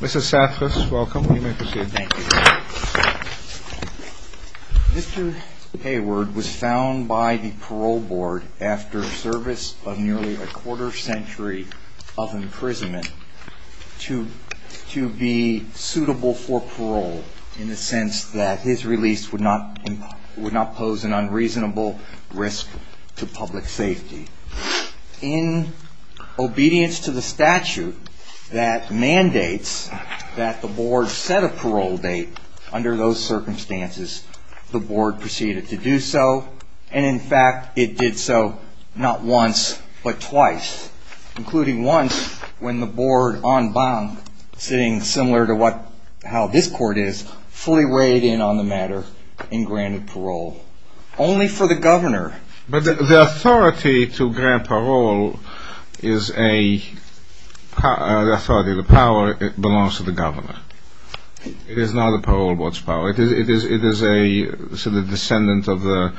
Mr. Hayward was found by the parole board after service of nearly a quarter century of imprisonment to be suitable for parole in the sense that his release would not pose an unreasonable risk to public safety. In obedience to the statute that mandates that the board set a parole date under those circumstances, the board proceeded to do so, and in fact it did so not once but twice, including once when the board, en banc, sitting similar to how this court is, fully weighed in on the matter and granted parole only for the governor. But the authority to grant parole belongs to the governor. It is not the parole board's power. It is a descendant of the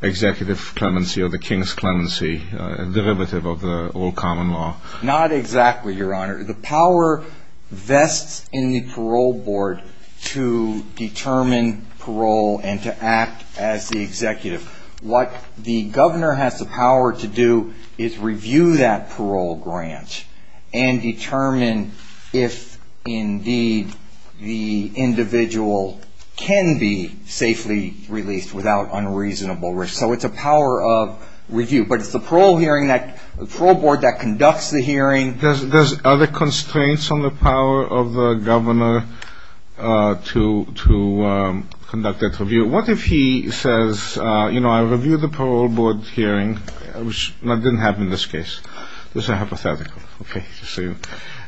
executive clemency or the king's clemency, a derivative of the all common law. Not exactly, your honor. The power vests in the parole board to determine parole and to act as the executive. What the governor has the power to do is review that parole grant and determine if indeed the individual can be safely released without unreasonable risk. So it's a power of review. But it's the parole board that conducts the hearing. There's other constraints on the power of the governor to conduct that review. What if he says, you know, I reviewed the parole board hearing, which didn't happen in this case. This is a hypothetical. Okay.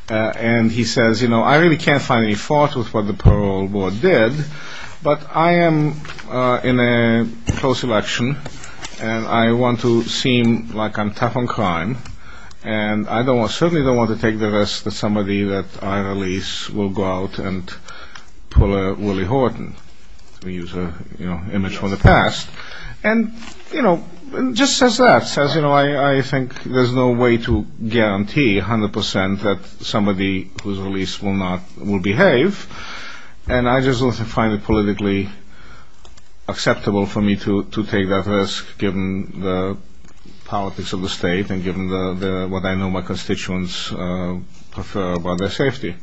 And he says, you know, I really can't find any fault with what the parole board did, but I am in a close election, and I want to seem like I'm tough on crime, and I certainly don't want to take the risk that somebody that I release will go out and pull a Willie Horton. We use an image from the past. And, you know, just says that. Says, you know, I think there's no way to guarantee 100% that somebody who's released will behave. And I just don't find it politically acceptable for me to take that risk given the politics of the state and given what I know my constituents prefer about their safety.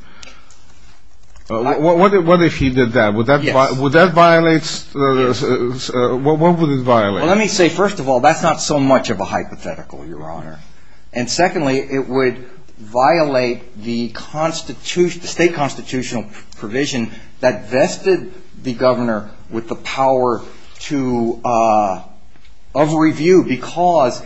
What if he did that? Would that violate? What would it violate? Well, let me say, first of all, that's not so much of a hypothetical, Your Honor. And secondly, it would violate the state constitutional provision that vested the governor with the power of review because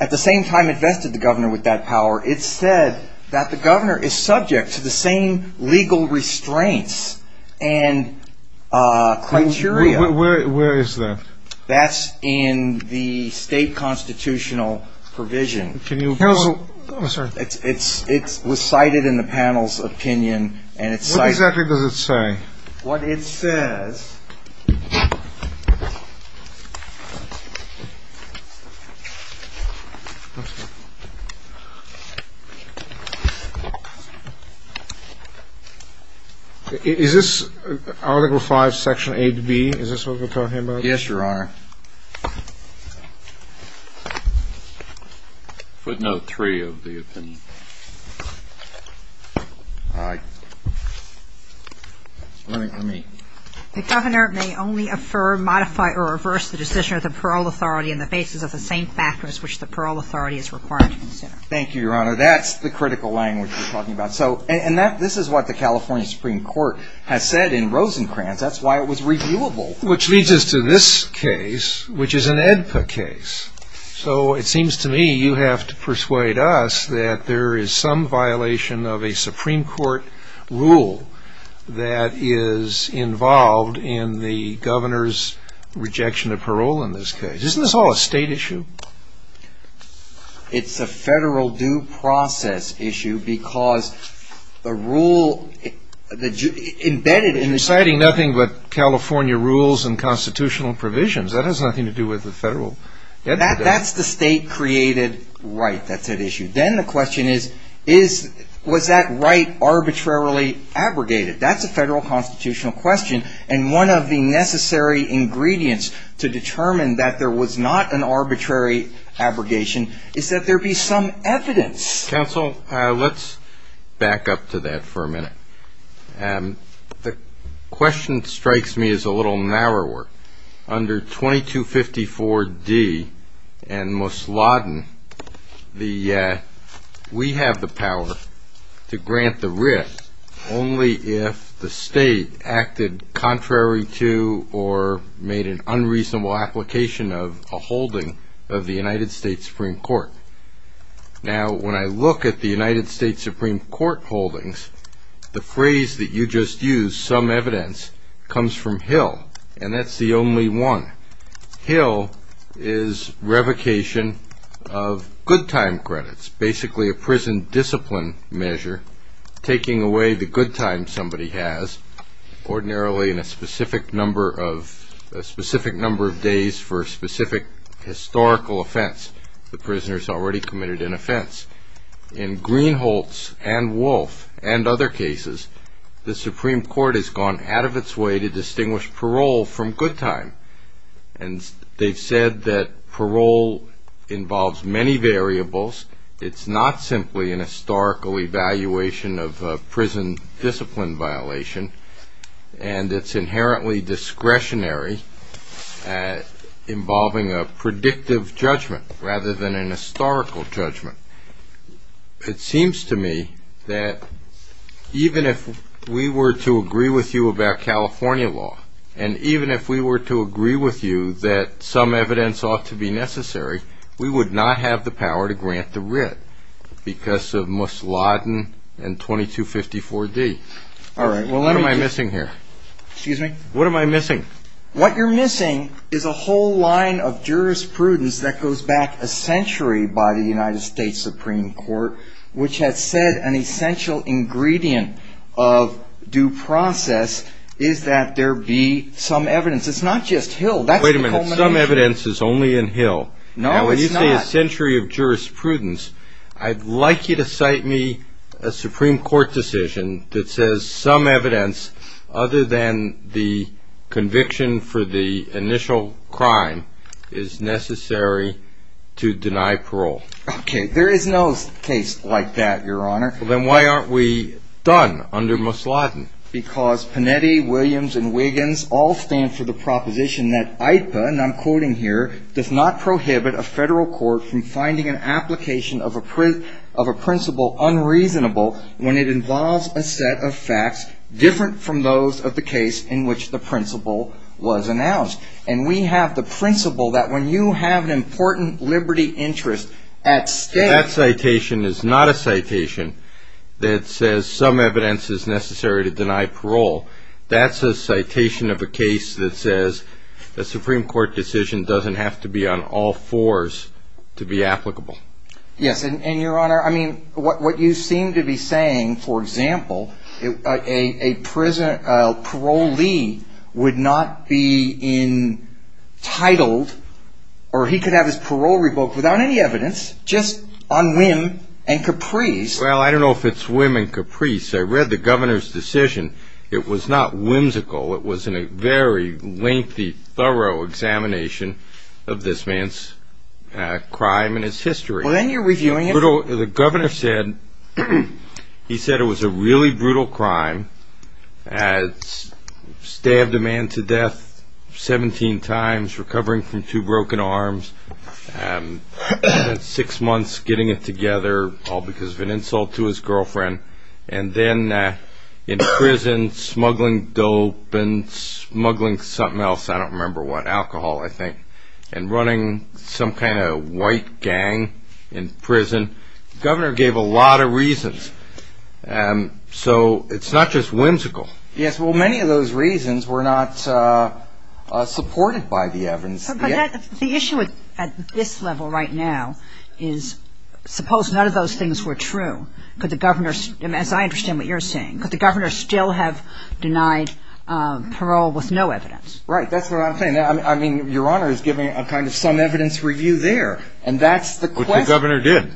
at the same time it vested the governor with that power, it said that the governor is subject to the same legal restraints and criteria. Where is that? That's in the state constitutional provision. Can you tell us? I'm sorry. It's recited in the panel's opinion, and it's cited. What exactly does it say? What it says. Is this Article V, Section 8B? Is this what we're talking about? Yes, Your Honor. Footnote 3 of the opinion. All right. Let me. The governor may only affirm, modify, or reverse the decision of the parole authority in the basis of the same factors which the parole authority is required to consider. Thank you, Your Honor. That's the critical language we're talking about. And this is what the California Supreme Court has said in Rosencrantz. That's why it was reviewable. Which leads us to this case, which is an AEDPA case. So it seems to me you have to persuade us that there is some violation of a Supreme Court rule that is involved in the governor's rejection of parole in this case. Isn't this all a state issue? It's a federal due process issue because the rule embedded in this. But you're citing nothing but California rules and constitutional provisions. That has nothing to do with the federal AEDPA. That's the state-created right that's at issue. Then the question is, was that right arbitrarily abrogated? That's a federal constitutional question. And one of the necessary ingredients to determine that there was not an arbitrary abrogation is that there be some evidence. Counsel, let's back up to that for a minute. The question strikes me as a little narrower. Under 2254D and Mosladen, we have the power to grant the writ only if the state acted contrary to or made an unreasonable application of a holding of the United States Supreme Court. Now, when I look at the United States Supreme Court holdings, the phrase that you just used, some evidence, comes from Hill. And that's the only one. Hill is revocation of good time credits, basically a prison discipline measure, taking away the good time somebody has, ordinarily in a specific number of days for a specific historical offense. The prisoner is already committed an offense. In Greenholtz and Wolfe and other cases, the Supreme Court has gone out of its way to distinguish parole from good time. And they've said that parole involves many variables. It's not simply an historical evaluation of a prison discipline violation. And it's inherently discretionary, involving a predictive judgment rather than a historical judgment. It seems to me that even if we were to agree with you about California law, and even if we were to agree with you that some evidence ought to be necessary, we would not have the power to grant the writ because of Mosladen and 2254D. All right. What am I missing here? What am I missing? What you're missing is a whole line of jurisprudence that goes back a century by the United States Supreme Court, which has said an essential ingredient of due process is that there be some evidence. It's not just Hill. That's the culmination. Wait a minute. Some evidence is only in Hill. No, it's not. After nearly a century of jurisprudence, I'd like you to cite me a Supreme Court decision that says some evidence other than the conviction for the initial crime is necessary to deny parole. Okay. There is no case like that, Your Honor. Then why aren't we done under Mosladen? Because Panetti, Williams, and Wiggins all stand for the proposition that IPA, and I'm quoting here, does not prohibit a federal court from finding an application of a principle unreasonable when it involves a set of facts different from those of the case in which the principle was announced. And we have the principle that when you have an important liberty interest at stake... That citation is not a citation that says some evidence is necessary to deny parole. That's a citation of a case that says a Supreme Court decision doesn't have to be on all fours to be applicable. Yes. And, Your Honor, I mean, what you seem to be saying, for example, a parolee would not be entitled or he could have his parole revoked without any evidence just on whim and caprice. Well, I don't know if it's whim and caprice. I read the governor's decision. It was not whimsical. It was a very lengthy, thorough examination of this man's crime and his history. Well, then you're reviewing it? The governor said he said it was a really brutal crime, stabbed a man to death 17 times, recovering from two broken arms, spent six months getting it together, all because of an insult to his girlfriend. And then in prison, smuggling dope and smuggling something else. I don't remember what. Alcohol, I think. And running some kind of white gang in prison. The governor gave a lot of reasons. So it's not just whimsical. Yes. Well, many of those reasons were not supported by the evidence. But the issue at this level right now is suppose none of those things were true. Could the governor, as I understand what you're saying, could the governor still have denied parole with no evidence? Right. That's what I'm saying. I mean, Your Honor is giving a kind of some evidence review there. And that's the question. But the governor did.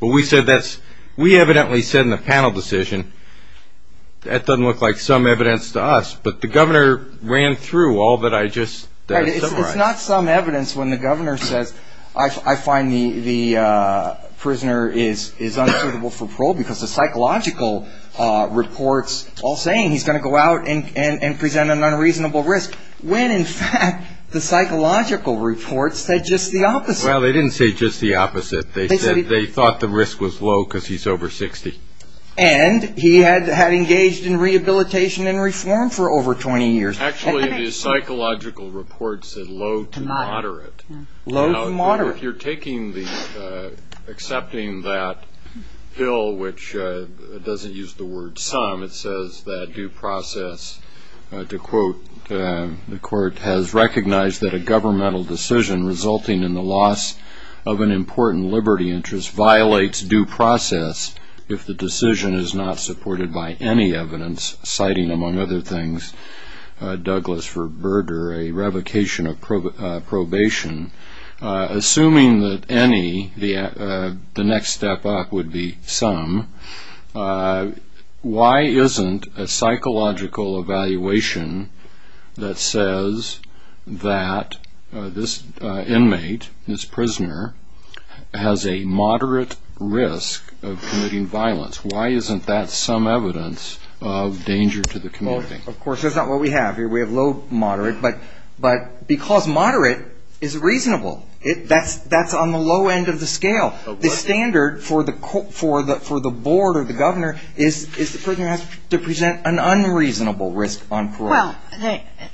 But we said that's we evidently said in the panel decision that doesn't look like some evidence to us. But the governor ran through all that I just summarized. Right. It's not some evidence when the governor says, I find the prisoner is unsuitable for parole, because the psychological reports all saying he's going to go out and present an unreasonable risk, when in fact the psychological reports said just the opposite. Well, they didn't say just the opposite. They said they thought the risk was low because he's over 60. And he had engaged in rehabilitation and reform for over 20 years. Actually, the psychological reports said low to moderate. Low to moderate. Now, if you're taking the accepting that bill, which doesn't use the word some, it says that due process, to quote, the court has recognized that a governmental decision resulting in the loss of an important liberty interest violates due process if the decision is not supported by any evidence, citing, among other things, Douglas for Berger, a revocation of probation. Assuming that any, the next step up would be some, why isn't a psychological evaluation that says that this inmate, this prisoner, has a moderate risk of committing violence, why isn't that some evidence of danger to the community? Of course, that's not what we have here. We have low, moderate, but because moderate is reasonable. That's on the low end of the scale. The standard for the board or the governor is the prisoner has to present an unreasonable risk on parole. Well,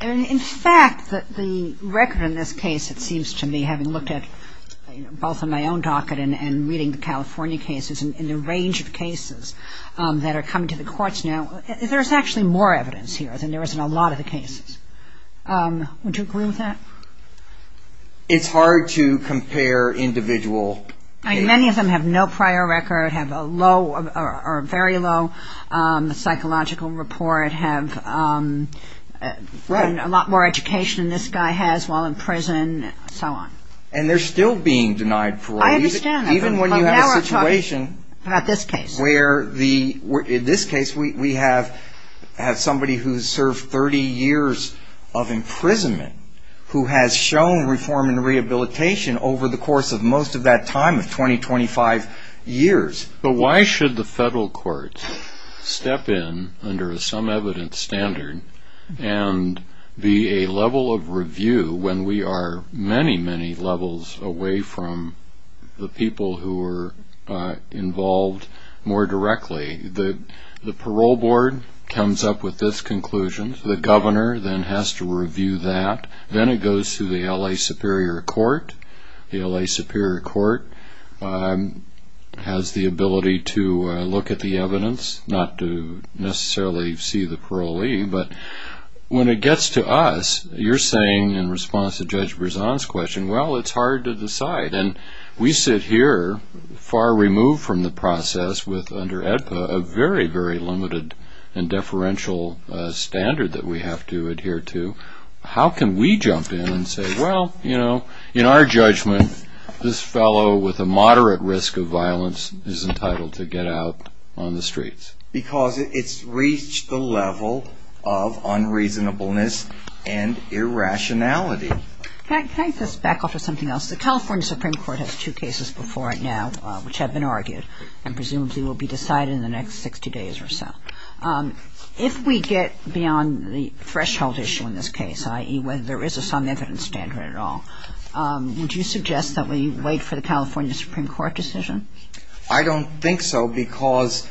in fact, the record in this case, it seems to me, having looked at both on my own docket and reading the California cases and the range of cases that are coming to the courts now, there's actually more evidence here than there is in a lot of the cases. Would you agree with that? It's hard to compare individual cases. Many of them have no prior record, have a low or very low psychological report, have a lot more education than this guy has while in prison, and so on. And they're still being denied parole. I understand. Even when you have a situation where the, in this case, we have somebody who's served 30 years of imprisonment who has shown reform and rehabilitation over the course of most of that time of 20, 25 years. But why should the federal courts step in under a some evidence standard and be a level of review when we are many, many levels away from the people who are involved more directly? The parole board comes up with this conclusion. The governor then has to review that. Then it goes to the L.A. Superior Court. The L.A. Superior Court has the ability to look at the evidence, not to necessarily see the parolee. But when it gets to us, you're saying in response to Judge Berzon's question, well, it's hard to decide. And we sit here far removed from the process with, under AEDPA, a very, very limited and deferential standard that we have to adhere to. How can we jump in and say, well, you know, in our judgment, this fellow with a moderate risk of violence is entitled to get out on the streets? Because it's reached the level of unreasonableness and irrationality. Can I take this back off to something else? The California Supreme Court has two cases before it now which have been argued and presumably will be decided in the next 60 days or so. If we get beyond the threshold issue in this case, i.e., whether there is a some evidence standard at all, would you suggest that we wait for the California Supreme Court decision? I don't think so because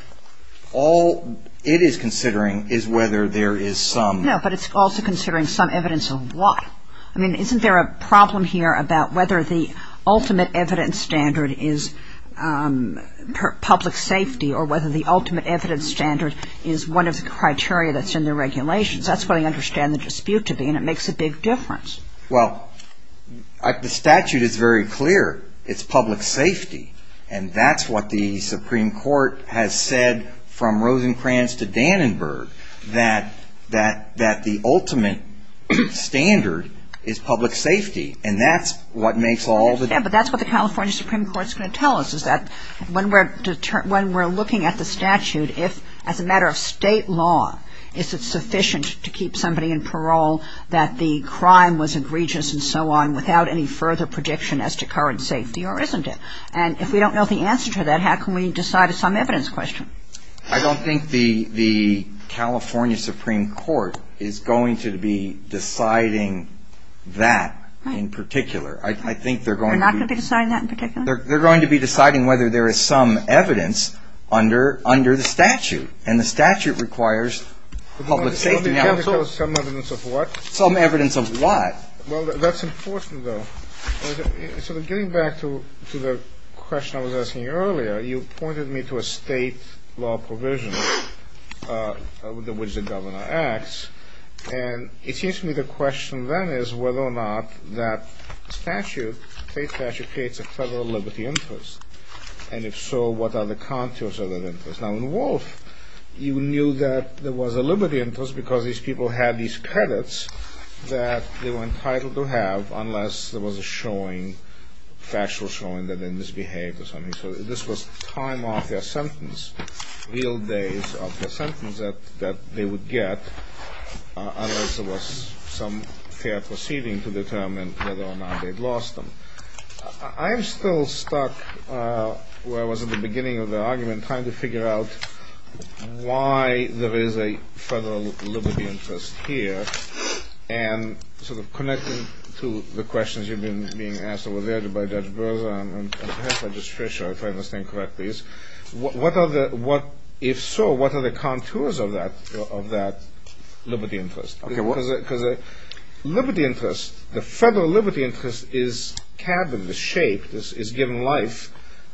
all it is considering is whether there is some. No, but it's also considering some evidence of what? I mean, isn't there a problem here about whether the ultimate evidence standard is public safety or whether the ultimate evidence standard is one of the criteria that's in the regulations? That's what I understand the dispute to be, and it makes a big difference. Well, the statute is very clear. It's public safety. And that's what the Supreme Court has said from Rosencrantz to Dannenberg, that the ultimate standard is public safety, and that's what makes all the difference. Yes, but that's what the California Supreme Court is going to tell us, is that when we're looking at the statute, as a matter of State law, is it sufficient to keep somebody in parole that the crime was egregious and so on without any further prediction as to current safety, or isn't it? And if we don't know the answer to that, how can we decide a some evidence question? I don't think the California Supreme Court is going to be deciding that in particular. I think they're going to be deciding whether there is some evidence under the statute, and the statute requires public safety. Some evidence of what? Some evidence of what? Well, that's enforcement, though. So getting back to the question I was asking earlier, you pointed me to a State law provision with which the governor acts, and it seems to me the question then is whether or not that statute, State statute, creates a federal liberty interest, and if so, what are the contours of that interest? Now, in Wolf, you knew that there was a liberty interest because these people had these credits that they were entitled to have unless there was a showing, factual showing that they misbehaved or something. So this was time off their sentence, real days off their sentence that they would get unless there was some fair proceeding to determine whether or not they'd lost them. I'm still stuck where I was at the beginning of the argument trying to figure out why there is a federal liberty interest here and sort of connecting to the questions you've been being asked over there by Judge Berza and perhaps by Judge Fischer, if I understand correctly. If so, what are the contours of that liberty interest? Because a liberty interest, the federal liberty interest is cabined, is shaped, is given life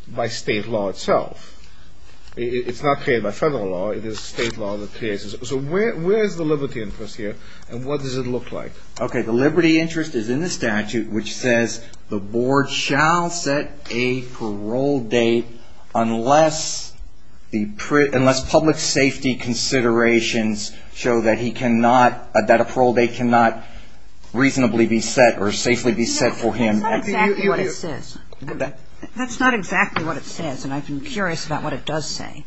by State law itself. It's not created by federal law. It is State law that creates it. So where is the liberty interest here, and what does it look like? Okay. The liberty interest is in the statute which says the board shall set a parole date unless public safety considerations show that he cannot, that a parole date cannot reasonably be set or safely be set for him. That's not exactly what it says. That's not exactly what it says, and I've been curious about what it does say.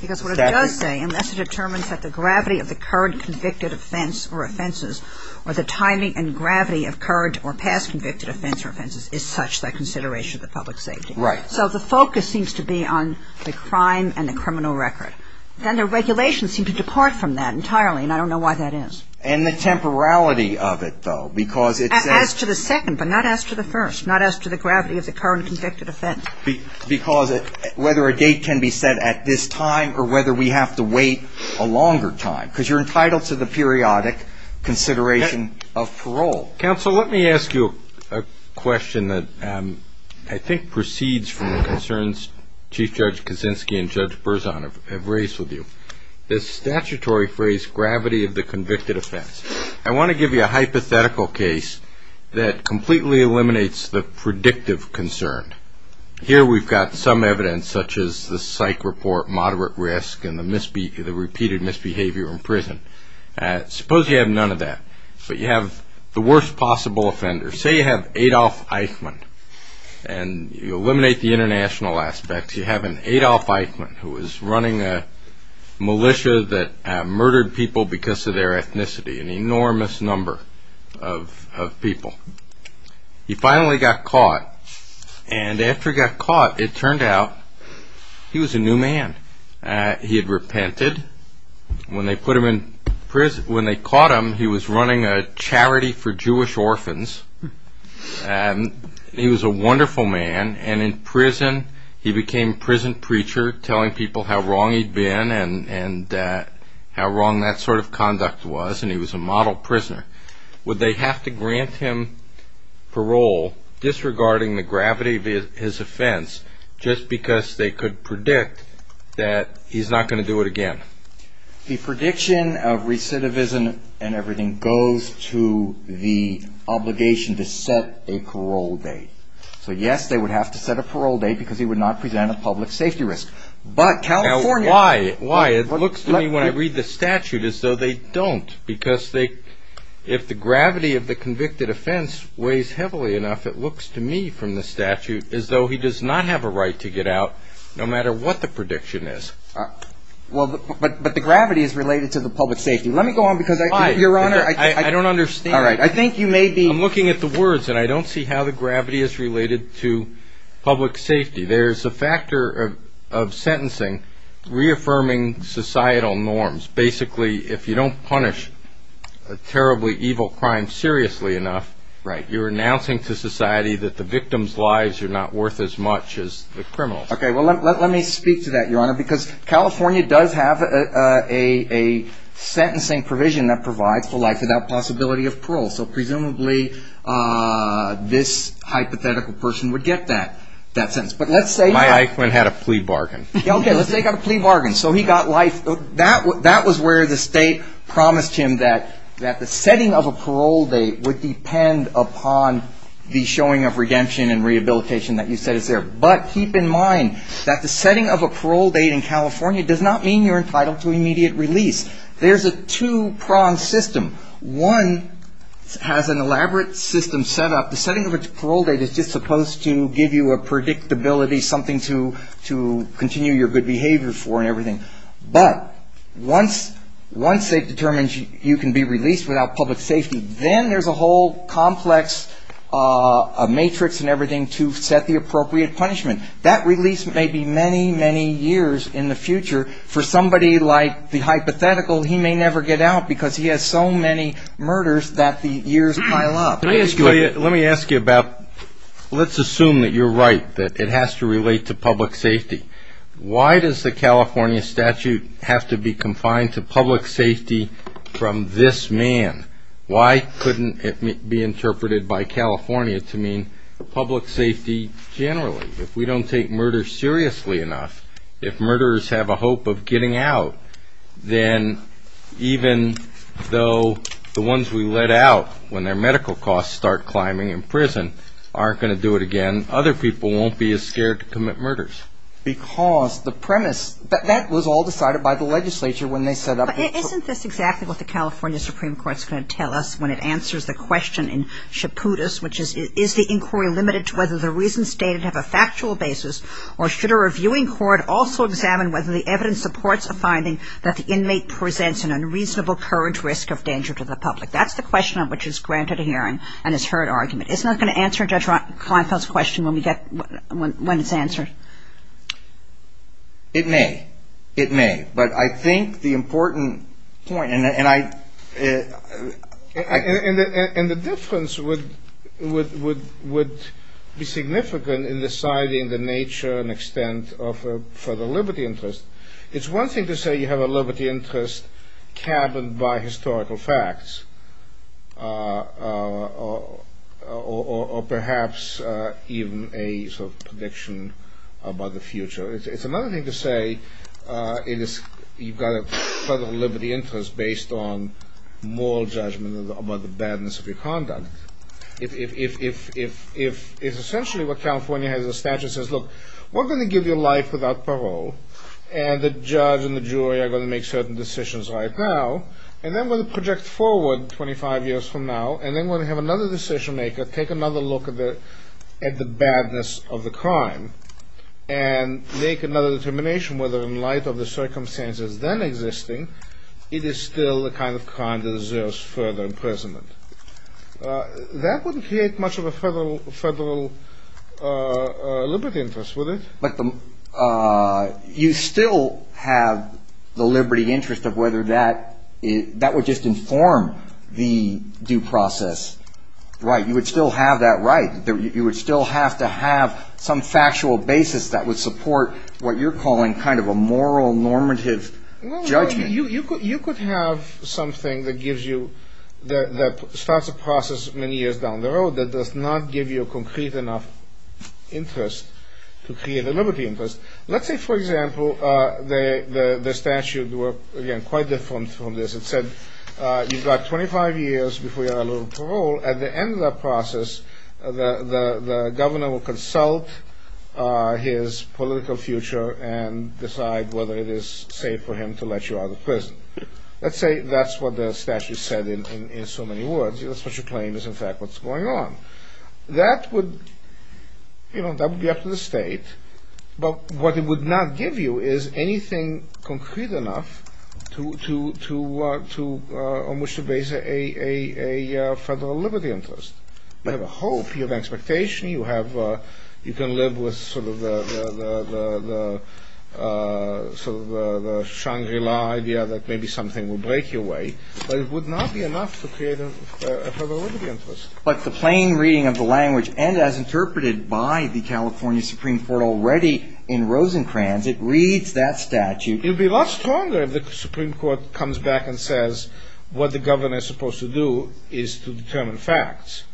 Because what it does say, unless it determines that the gravity of the current convicted offense or offenses or the timing and gravity of current or past convicted offense or offenses is such that consideration of the public safety. Right. So the focus seems to be on the crime and the criminal record. Then the regulations seem to depart from that entirely, and I don't know why that is. And the temporality of it, though, because it says — As to the second, but not as to the first, not as to the gravity of the current convicted offense. Because whether a date can be set at this time or whether we have to wait a longer time. Because you're entitled to the periodic consideration of parole. Counsel, let me ask you a question that I think proceeds from the concerns Chief Judge Kaczynski and Judge Berzon have raised with you. The statutory phrase, gravity of the convicted offense. I want to give you a hypothetical case that completely eliminates the predictive concern. Here we've got some evidence, such as the psych report, moderate risk, and the repeated misbehavior in prison. Suppose you have none of that, but you have the worst possible offender. Say you have Adolf Eichmann, and you eliminate the international aspects. You have an Adolf Eichmann who is running a militia that murdered people because of their ethnicity. An enormous number of people. He finally got caught. And after he got caught, it turned out he was a new man. He had repented. When they caught him, he was running a charity for Jewish orphans. He was a wonderful man. And in prison, he became a prison preacher, telling people how wrong he'd been and how wrong that sort of conduct was, and he was a model prisoner. Would they have to grant him parole, disregarding the gravity of his offense, just because they could predict that he's not going to do it again? The prediction of recidivism and everything goes to the obligation to set a parole date. So, yes, they would have to set a parole date because he would not present a public safety risk. Now, why? It looks to me when I read the statute as though they don't, because if the gravity of the convicted offense weighs heavily enough, it looks to me from the statute as though he does not have a right to get out, no matter what the prediction is. But the gravity is related to the public safety. Let me go on, because, Your Honor, I think you may be— I'm looking at the words, and I don't see how the gravity is related to public safety. There's a factor of sentencing reaffirming societal norms. Basically, if you don't punish a terribly evil crime seriously enough, you're announcing to society that the victim's lives are not worth as much as the criminal's. Okay, well, let me speak to that, Your Honor, because California does have a sentencing provision that provides for life without possibility of parole. So presumably this hypothetical person would get that sentence. But let's say— My iquan had a plea bargain. Okay, let's say he got a plea bargain. So he got life. That was where the State promised him that the setting of a parole date would depend upon the showing of redemption and rehabilitation that you said is there. But keep in mind that the setting of a parole date in California does not mean you're entitled to immediate release. There's a two-prong system. One has an elaborate system set up. The setting of a parole date is just supposed to give you a predictability, something to continue your good behavior for and everything. But once they've determined you can be released without public safety, then there's a whole complex matrix and everything to set the appropriate punishment. That release may be many, many years in the future for somebody like the hypothetical. He may never get out because he has so many murders that the years pile up. Let me ask you about—let's assume that you're right, that it has to relate to public safety. Why does the California statute have to be confined to public safety from this man? Why couldn't it be interpreted by California to mean public safety generally? If we don't take murder seriously enough, if murderers have a hope of getting out, then even though the ones we let out when their medical costs start climbing in prison aren't going to do it again, other people won't be as scared to commit murders. Because the premise—that was all decided by the legislature when they set up— But isn't this exactly what the California Supreme Court is going to tell us when it answers the question in Chaputis, which is, is the inquiry limited to whether the reasons stated have a factual basis, or should a reviewing court also examine whether the evidence supports a finding that the inmate presents an unreasonable current risk of danger to the public? That's the question on which is granted a hearing and is heard argument. Isn't that going to answer Judge Kleinfeld's question when we get—when it's answered? It may. It may. But I think the important point— And the difference would be significant in deciding the nature and extent of a federal liberty interest. It's one thing to say you have a liberty interest cabined by historical facts, or perhaps even a sort of prediction about the future. It's another thing to say you've got a federal liberty interest based on moral judgment about the badness of your conduct. If it's essentially what California has as a statute that says, look, we're going to give you life without parole, and the judge and the jury are going to make certain decisions right now, and then we're going to project forward 25 years from now, and then we're going to have another decision maker take another look at the badness of the crime, and make another determination whether, in light of the circumstances then existing, it is still the kind of crime that deserves further imprisonment. That wouldn't create much of a federal liberty interest, would it? But you still have the liberty interest of whether that would just inform the due process right. You would still have that right. You would still have to have some factual basis that would support what you're calling kind of a moral normative judgment. You could have something that starts a process many years down the road that does not give you a concrete enough interest to create a liberty interest. Let's say, for example, the statute were, again, quite different from this. It said you've got 25 years before you're allowed parole. At the end of that process, the governor will consult his political future and decide whether it is safe for him to let you out of prison. Let's say that's what the statute said in so many words. That's what your claim is, in fact, what's going on. That would be up to the state. But what it would not give you is anything concrete enough on which to base a federal liberty interest. You have a hope. You have an expectation. You can live with sort of the Shangri-La idea that maybe something will break your way. But it would not be enough to create a federal liberty interest. But the plain reading of the language, and as interpreted by the California Supreme Court already in Rosencrantz, it reads that statute. It would be a lot stronger if the Supreme Court comes back and says what the governor is supposed to do is to determine facts.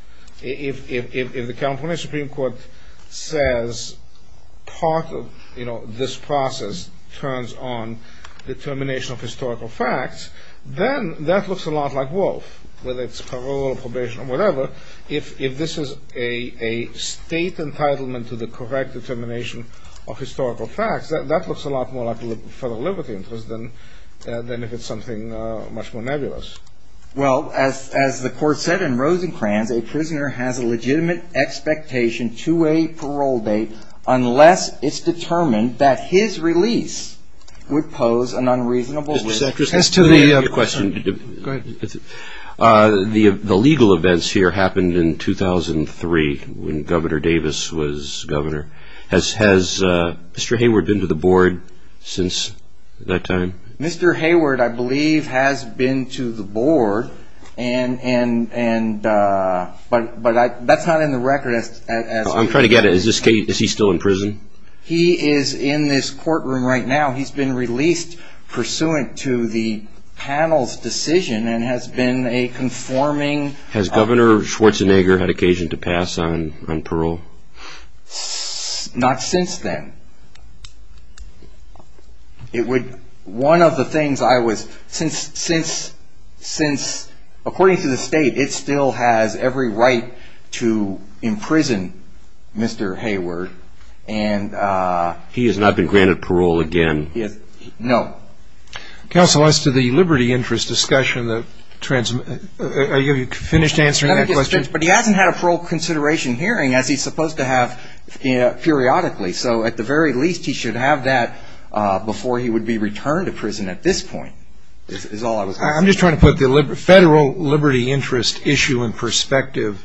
If the California Supreme Court says part of this process turns on determination of historical facts, then that looks a lot like Wolf, whether it's parole or probation or whatever. If this is a state entitlement to the correct determination of historical facts, that looks a lot more like a federal liberty interest than if it's something much more nebulous. Well, as the court said in Rosencrantz, a prisoner has a legitimate expectation to a parole date unless it's determined that his release would pose an unreasonable risk. The legal events here happened in 2003 when Governor Davis was governor. Has Mr. Hayward been to the board since that time? Mr. Hayward, I believe, has been to the board, but that's not in the record. I'm trying to get it. Is he still in prison? He is in this courtroom right now. He's been released pursuant to the panel's decision and has been a conforming... Has Governor Schwarzenegger had occasion to pass on parole? Not since then. One of the things I was... According to the state, it still has every right to imprison Mr. Hayward. He has not been granted parole again? No. Counsel, as to the liberty interest discussion, are you finished answering that question? But he hasn't had a parole consideration hearing, as he's supposed to have periodically. So at the very least, he should have that before he would be returned to prison at this point, is all I was going to say. I'm just trying to put the federal liberty interest issue in perspective.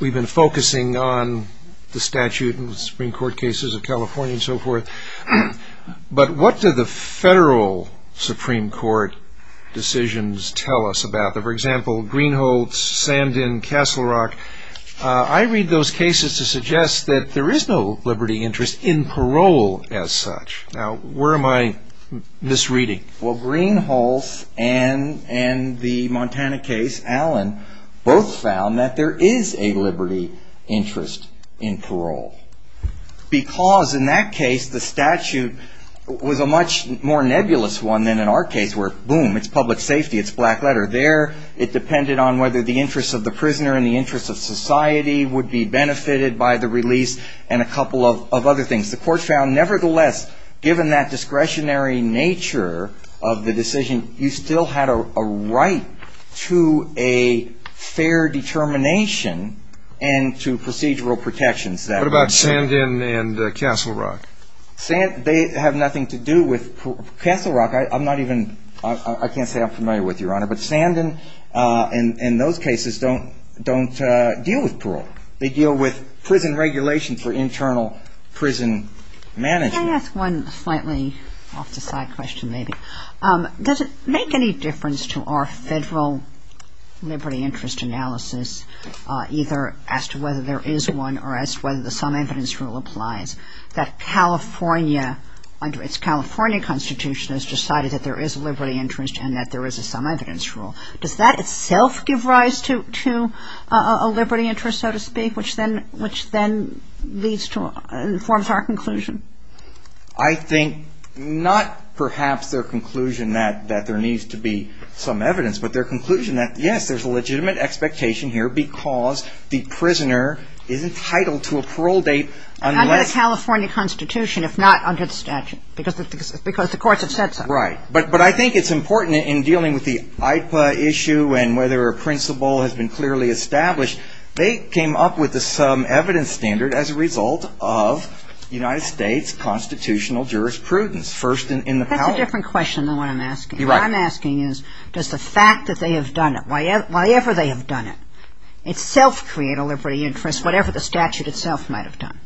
We've been focusing on the statute and the Supreme Court cases of California and so forth. But what do the federal Supreme Court decisions tell us about them? For example, Greenholz, Sandin, Castle Rock. I read those cases to suggest that there is no liberty interest in parole as such. Now, where am I misreading? Well, Greenholz and the Montana case, Allen, both found that there is a liberty interest in parole. Because in that case, the statute was a much more nebulous one than in our case where, boom, it's public safety, it's black letter. There, it depended on whether the interest of the prisoner and the interest of society would be benefited by the release and a couple of other things. The court found, nevertheless, given that discretionary nature of the decision, you still had a right to a fair determination and to procedural protections. What about Sandin and Castle Rock? They have nothing to do with parole. Castle Rock, I'm not even, I can't say I'm familiar with, Your Honor, but Sandin and those cases don't deal with parole. They deal with prison regulation for internal prison management. Can I ask one slightly off-the-side question, maybe? Does it make any difference to our federal liberty interest analysis, either as to whether there is one or as to whether the sum evidence rule applies, that California, its California Constitution has decided that there is a liberty interest and that there is a sum evidence rule? Does that itself give rise to a liberty interest, so to speak, which then leads to, informs our conclusion? I think not perhaps their conclusion that there needs to be sum evidence, but their conclusion that, yes, there's a legitimate expectation here because the prisoner is entitled to a parole date unless the court has said so. And under the California Constitution, if not under the statute, because the courts have said so. Right. But I think it's important in dealing with the IPA issue and whether a principle has been clearly established, they came up with the sum evidence standard as a result of United States constitutional jurisprudence, first in the power. That's a different question than what I'm asking. You're right. What I'm asking is, does the fact that they have done it, whatever they have done it, itself create a liberty interest, whatever the statute itself might have done?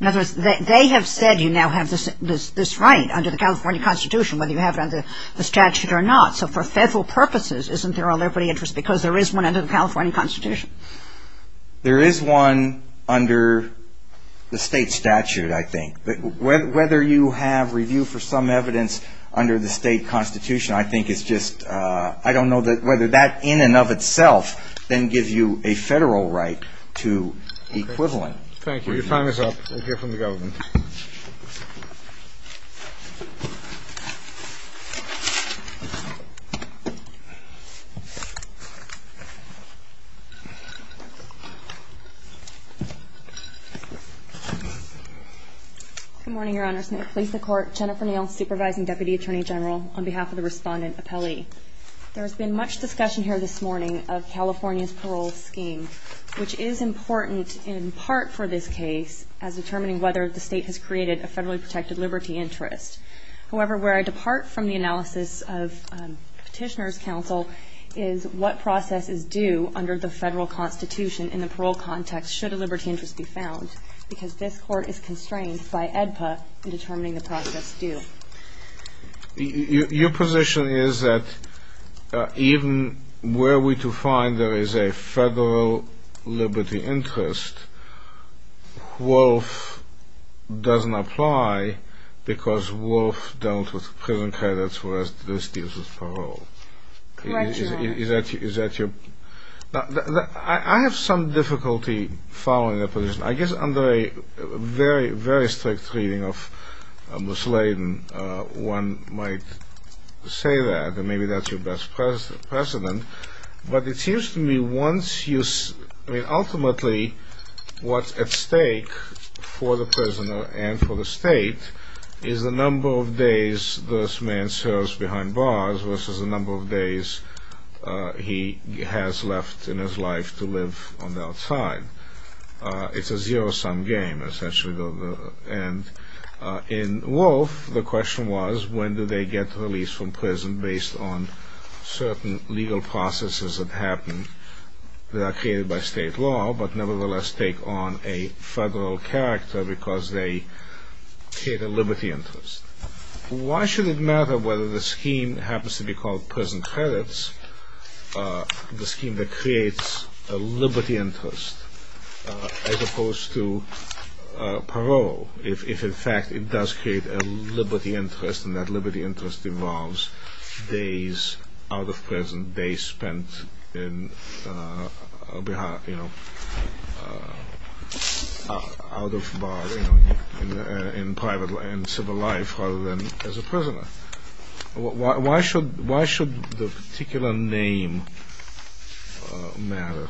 In other words, they have said you now have this right under the California Constitution, whether you have it under the statute or not. So for federal purposes, isn't there a liberty interest because there is one under the California Constitution? There is one under the state statute, I think. But whether you have review for sum evidence under the state constitution, I think it's just, I don't know whether that in and of itself then gives you a federal right to equivalent. Thank you. Your time is up. We'll hear from the government. Good morning, Your Honor. I'm Jennifer Neal, Supervising Deputy Attorney General on behalf of the Respondent Appellee. There has been much discussion here this morning of California's parole scheme, which is important in part for this case as determining whether the state has created a federally protected liberty interest. However, where I depart from the analysis of Petitioner's Counsel is what process is due under the federal constitution in the parole context should a liberty interest be found. Because this court is constrained by AEDPA in determining the process due. Your position is that even were we to find there is a federal liberty interest, WOLF doesn't apply because WOLF dealt with prison credits whereas this deals with parole. Correct Your Honor. I have some difficulty following that position. I guess under a very, very strict reading of Mussolini, one might say that, and maybe that's your best precedent. But it seems to me once you, I mean ultimately what's at stake for the prisoner and for the state is the number of days this man serves behind bars versus the number of days this man serves in prison. He has left in his life to live on the outside. It's a zero sum game essentially. And in WOLF the question was when do they get released from prison based on certain legal processes that happen that are created by state law but nevertheless take on a federal character because they create a liberty interest. Why should it matter whether the scheme happens to be called prison credits, the scheme that creates a liberty interest as opposed to parole. If in fact it does create a liberty interest and that liberty interest involves days out of prison, days spent in, out of bar, in private and civil life rather than in prison. Why should the particular name matter?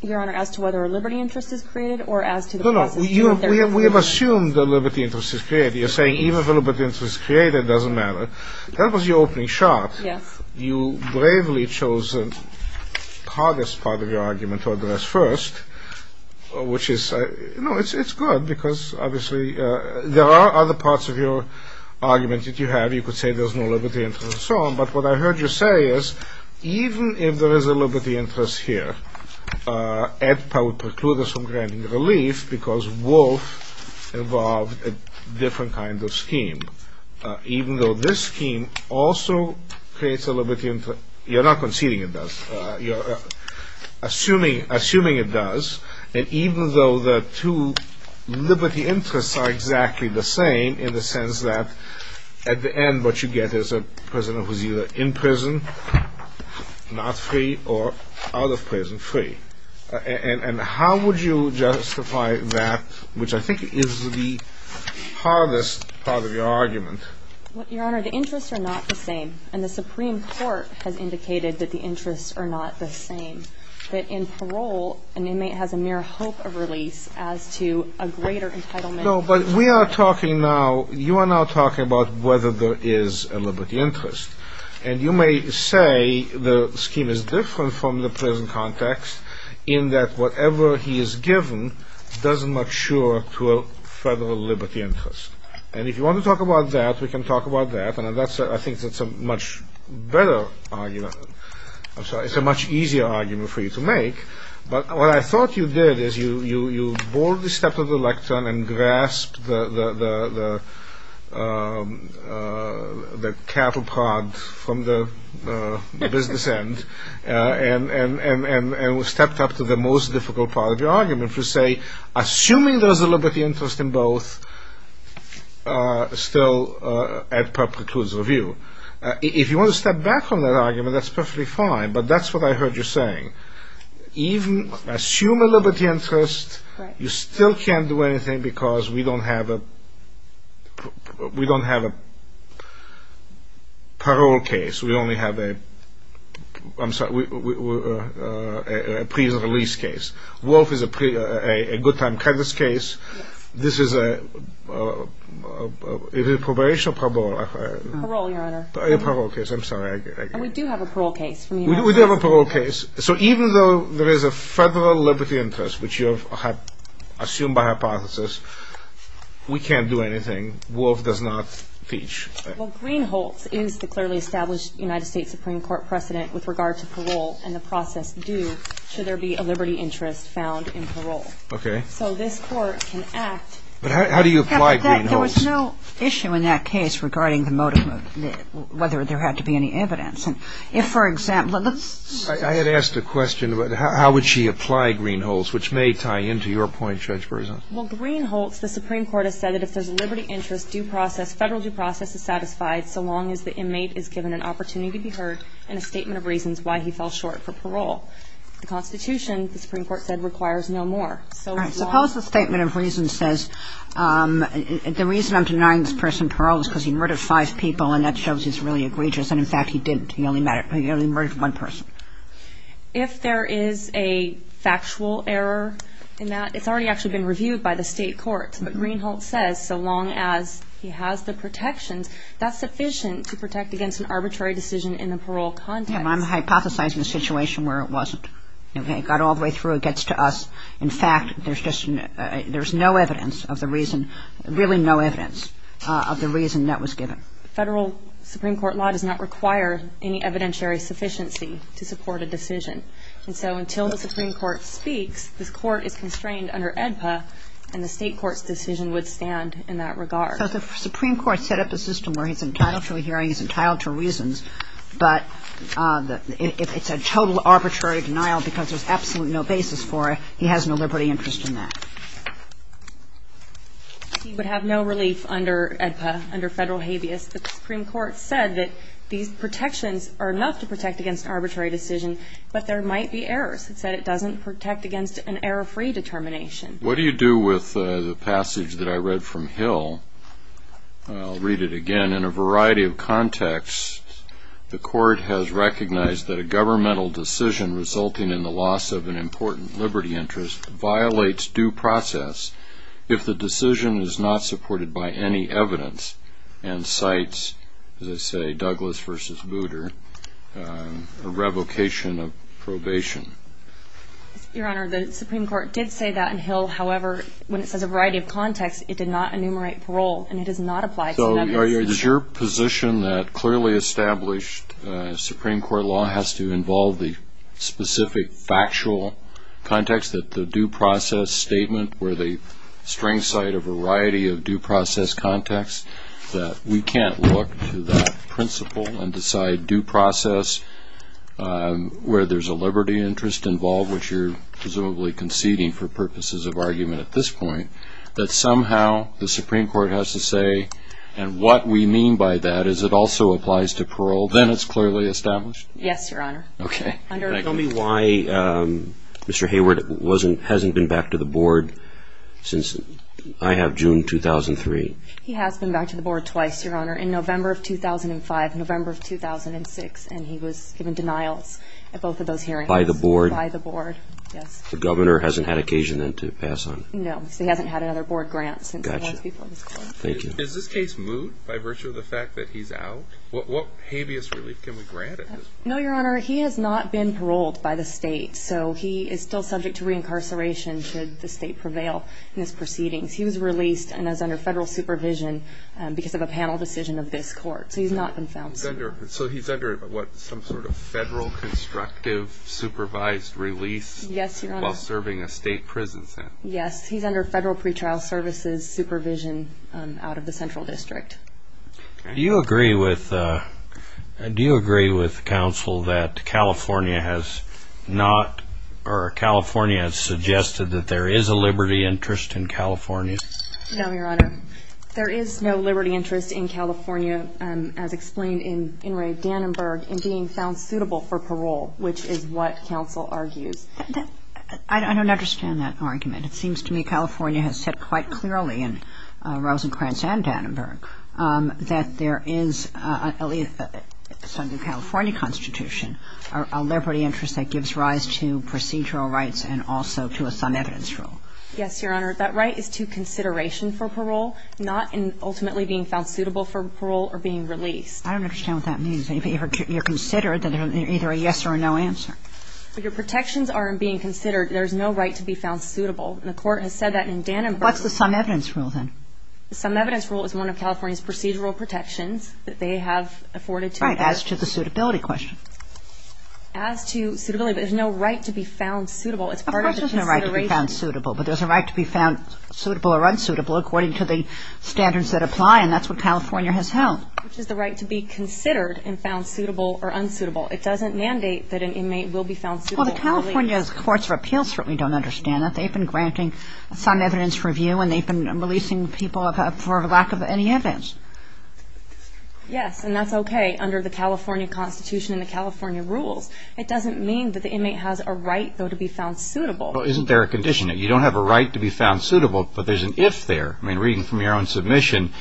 Your Honor, as to whether a liberty interest is created or as to the process. No, no, we have assumed that liberty interest is created. You're saying even if a liberty interest is created it doesn't matter. That was your opening shot. Yes. You bravely chose the hardest part of your argument to address first. Which is, you know, it's good because obviously there are other parts of your argument that you have. You could say there's no liberty interest and so on. But what I heard you say is even if there is a liberty interest here, Ed Powell precludes from granting relief because WOLF involved a different kind of scheme. Even though this scheme also creates a liberty interest. You're not conceding it does. You're assuming it does. And even though the two liberty interests are exactly the same in the sense that at the end what you get is a prisoner who's either in prison, not free, or out of prison, free. And how would you justify that, which I think is the hardest part of your argument, Your Honor, the interests are not the same. And the Supreme Court has indicated that the interests are not the same. That in parole an inmate has a mere hope of release as to a greater entitlement. No, but we are talking now, you are now talking about whether there is a liberty interest. And you may say the scheme is different from the prison context in that whatever he is given doesn't mature to a federal liberty interest. And if you want to talk about that, we can talk about that. And I think that's a much better argument. I'm sorry, it's a much easier argument for you to make. But what I thought you did is you boldly stepped up to the lectern and grasped the catapult from the business end to say, assuming there is a liberty interest in both, still, Ed Papp precludes review. If you want to step back from that argument, that's perfectly fine, but that's what I heard you saying. Even, assume a liberty interest, you still can't do anything because we don't have a parole case. We only have a pre-release case. Wolf is a good time crisis case. Is it a probation or parole? Parole, your honor. And we do have a parole case. So even though there is a federal liberty interest, which you have assumed by hypothesis, we can't do anything. Wolf does not teach. Well, Greenholz is the clearly established United States Supreme Court precedent with regard to parole and the process due should there be a liberty interest found in parole. Okay. So this court can act. But how do you apply Greenholz? There was no issue in that case regarding the motive whether there had to be any evidence. I had asked a question about how would she apply Greenholz, which may tie into your point, Judge Berzon. Well, Greenholz, the Supreme Court has said that if there's a liberty interest due process, federal due process is satisfied so long as the inmate is given an opportunity to be heard and a statement of reasons why he fell short for parole. The Constitution, the Supreme Court said, requires no more. All right. Suppose the statement of reasons says the reason I'm denying this person parole is because he murdered five people and that shows he's really egregious. And, in fact, he didn't. He only murdered one person. If there is a factual error in that, it's already actually been reviewed by the State Court. But Greenholz says so long as he has the protections, that's sufficient to protect against an arbitrary decision in the parole context. Well, I'm hypothesizing a situation where it wasn't. It got all the way through. It gets to us. In fact, there's just no evidence of the reason, really no evidence of the reason that was given. Federal Supreme Court law does not require any evidentiary sufficiency to support a decision. And so until the Supreme Court speaks, this Court is constrained under AEDPA, and the State Court's decision would stand in that regard. Because the Supreme Court set up a system where he's entitled to a hearing, he's entitled to reasons, but if it's a total arbitrary denial because there's absolutely no basis for it, he has no liberty interest in that. He would have no relief under AEDPA, under Federal habeas. The Supreme Court said that these protections are enough to protect against arbitrary decision, but there might be errors. It said it doesn't protect against an error-free determination. What do you do with the passage that I read from Hill? I'll read it again. In a variety of contexts, the Court has recognized that a governmental decision resulting in the loss of an important liberty interest violates due process if the decision is not supported by any evidence and cites, as I say, Your Honor, the Supreme Court did say that in Hill. However, when it says a variety of contexts, it did not enumerate parole, and it does not apply to that decision. So is your position that clearly established Supreme Court law has to involve the specific factual context, that the due process statement where the strings cite a variety of due process contexts, that we can't look to that principle and decide due process where there's a liberty interest involved, which you're presumably conceding for purposes of argument at this point, that somehow the Supreme Court has to say, and what we mean by that is it also applies to parole, then it's clearly established? Yes, Your Honor. Okay. Can you tell me why Mr. Hayward hasn't been back to the Board since I have June 2003? He has been back to the Board twice, Your Honor. In November of 2005 and November of 2006, and he was given denials at both of those hearings. By the Board? By the Board, yes. The Governor hasn't had occasion then to pass on? No, because he hasn't had another Board grant since it was before this Court. Thank you. Is this case moot by virtue of the fact that he's out? What habeas relief can we grant at this point? No, Your Honor, he has not been paroled by the state, so he is still subject to reincarceration should the state prevail in his proceedings. He was released and is under federal supervision because of a panel decision of this Court, so he's not been found. So he's under what, some sort of federal constructive supervised release? Yes, Your Honor. While serving a state prison sentence? Yes, he's under federal pretrial services supervision out of the Central District. Okay. Do you agree with counsel that California has not, or California has suggested that there is a liberty interest in California? No, Your Honor. There is no liberty interest in California, as explained in Inouye Dannenberg, in being found suitable for parole, which is what counsel argues. I don't understand that argument. It seems to me California has said quite clearly in Rosencrantz and Dannenberg that there is, at least under the California Constitution, a liberty interest that gives rise to procedural rights and also to a sum evidence rule. Yes, Your Honor. That right is to consideration for parole, not in ultimately being found suitable for parole or being released. I don't understand what that means. If you're considered, then there's either a yes or a no answer. Your protections are in being considered. There is no right to be found suitable. And the Court has said that in Dannenberg. What's the sum evidence rule, then? The sum evidence rule is one of California's procedural protections that they have afforded to it. Right. As to the suitability question. As to suitability, there's no right to be found suitable. Of course there's no right to be found suitable, but there's a right to be found suitable or unsuitable according to the standards that apply, and that's what California has held. Which is the right to be considered and found suitable or unsuitable. It doesn't mandate that an inmate will be found suitable. Well, the California Courts of Appeals certainly don't understand that. They've been granting sum evidence review, and they've been releasing people for lack of any evidence. Yes, and that's okay under the California Constitution and the California rules. It doesn't mean that the inmate has a right, though, to be found suitable. Well, isn't there a condition? You don't have a right to be found suitable, but there's an if there. I mean, reading from your own submission,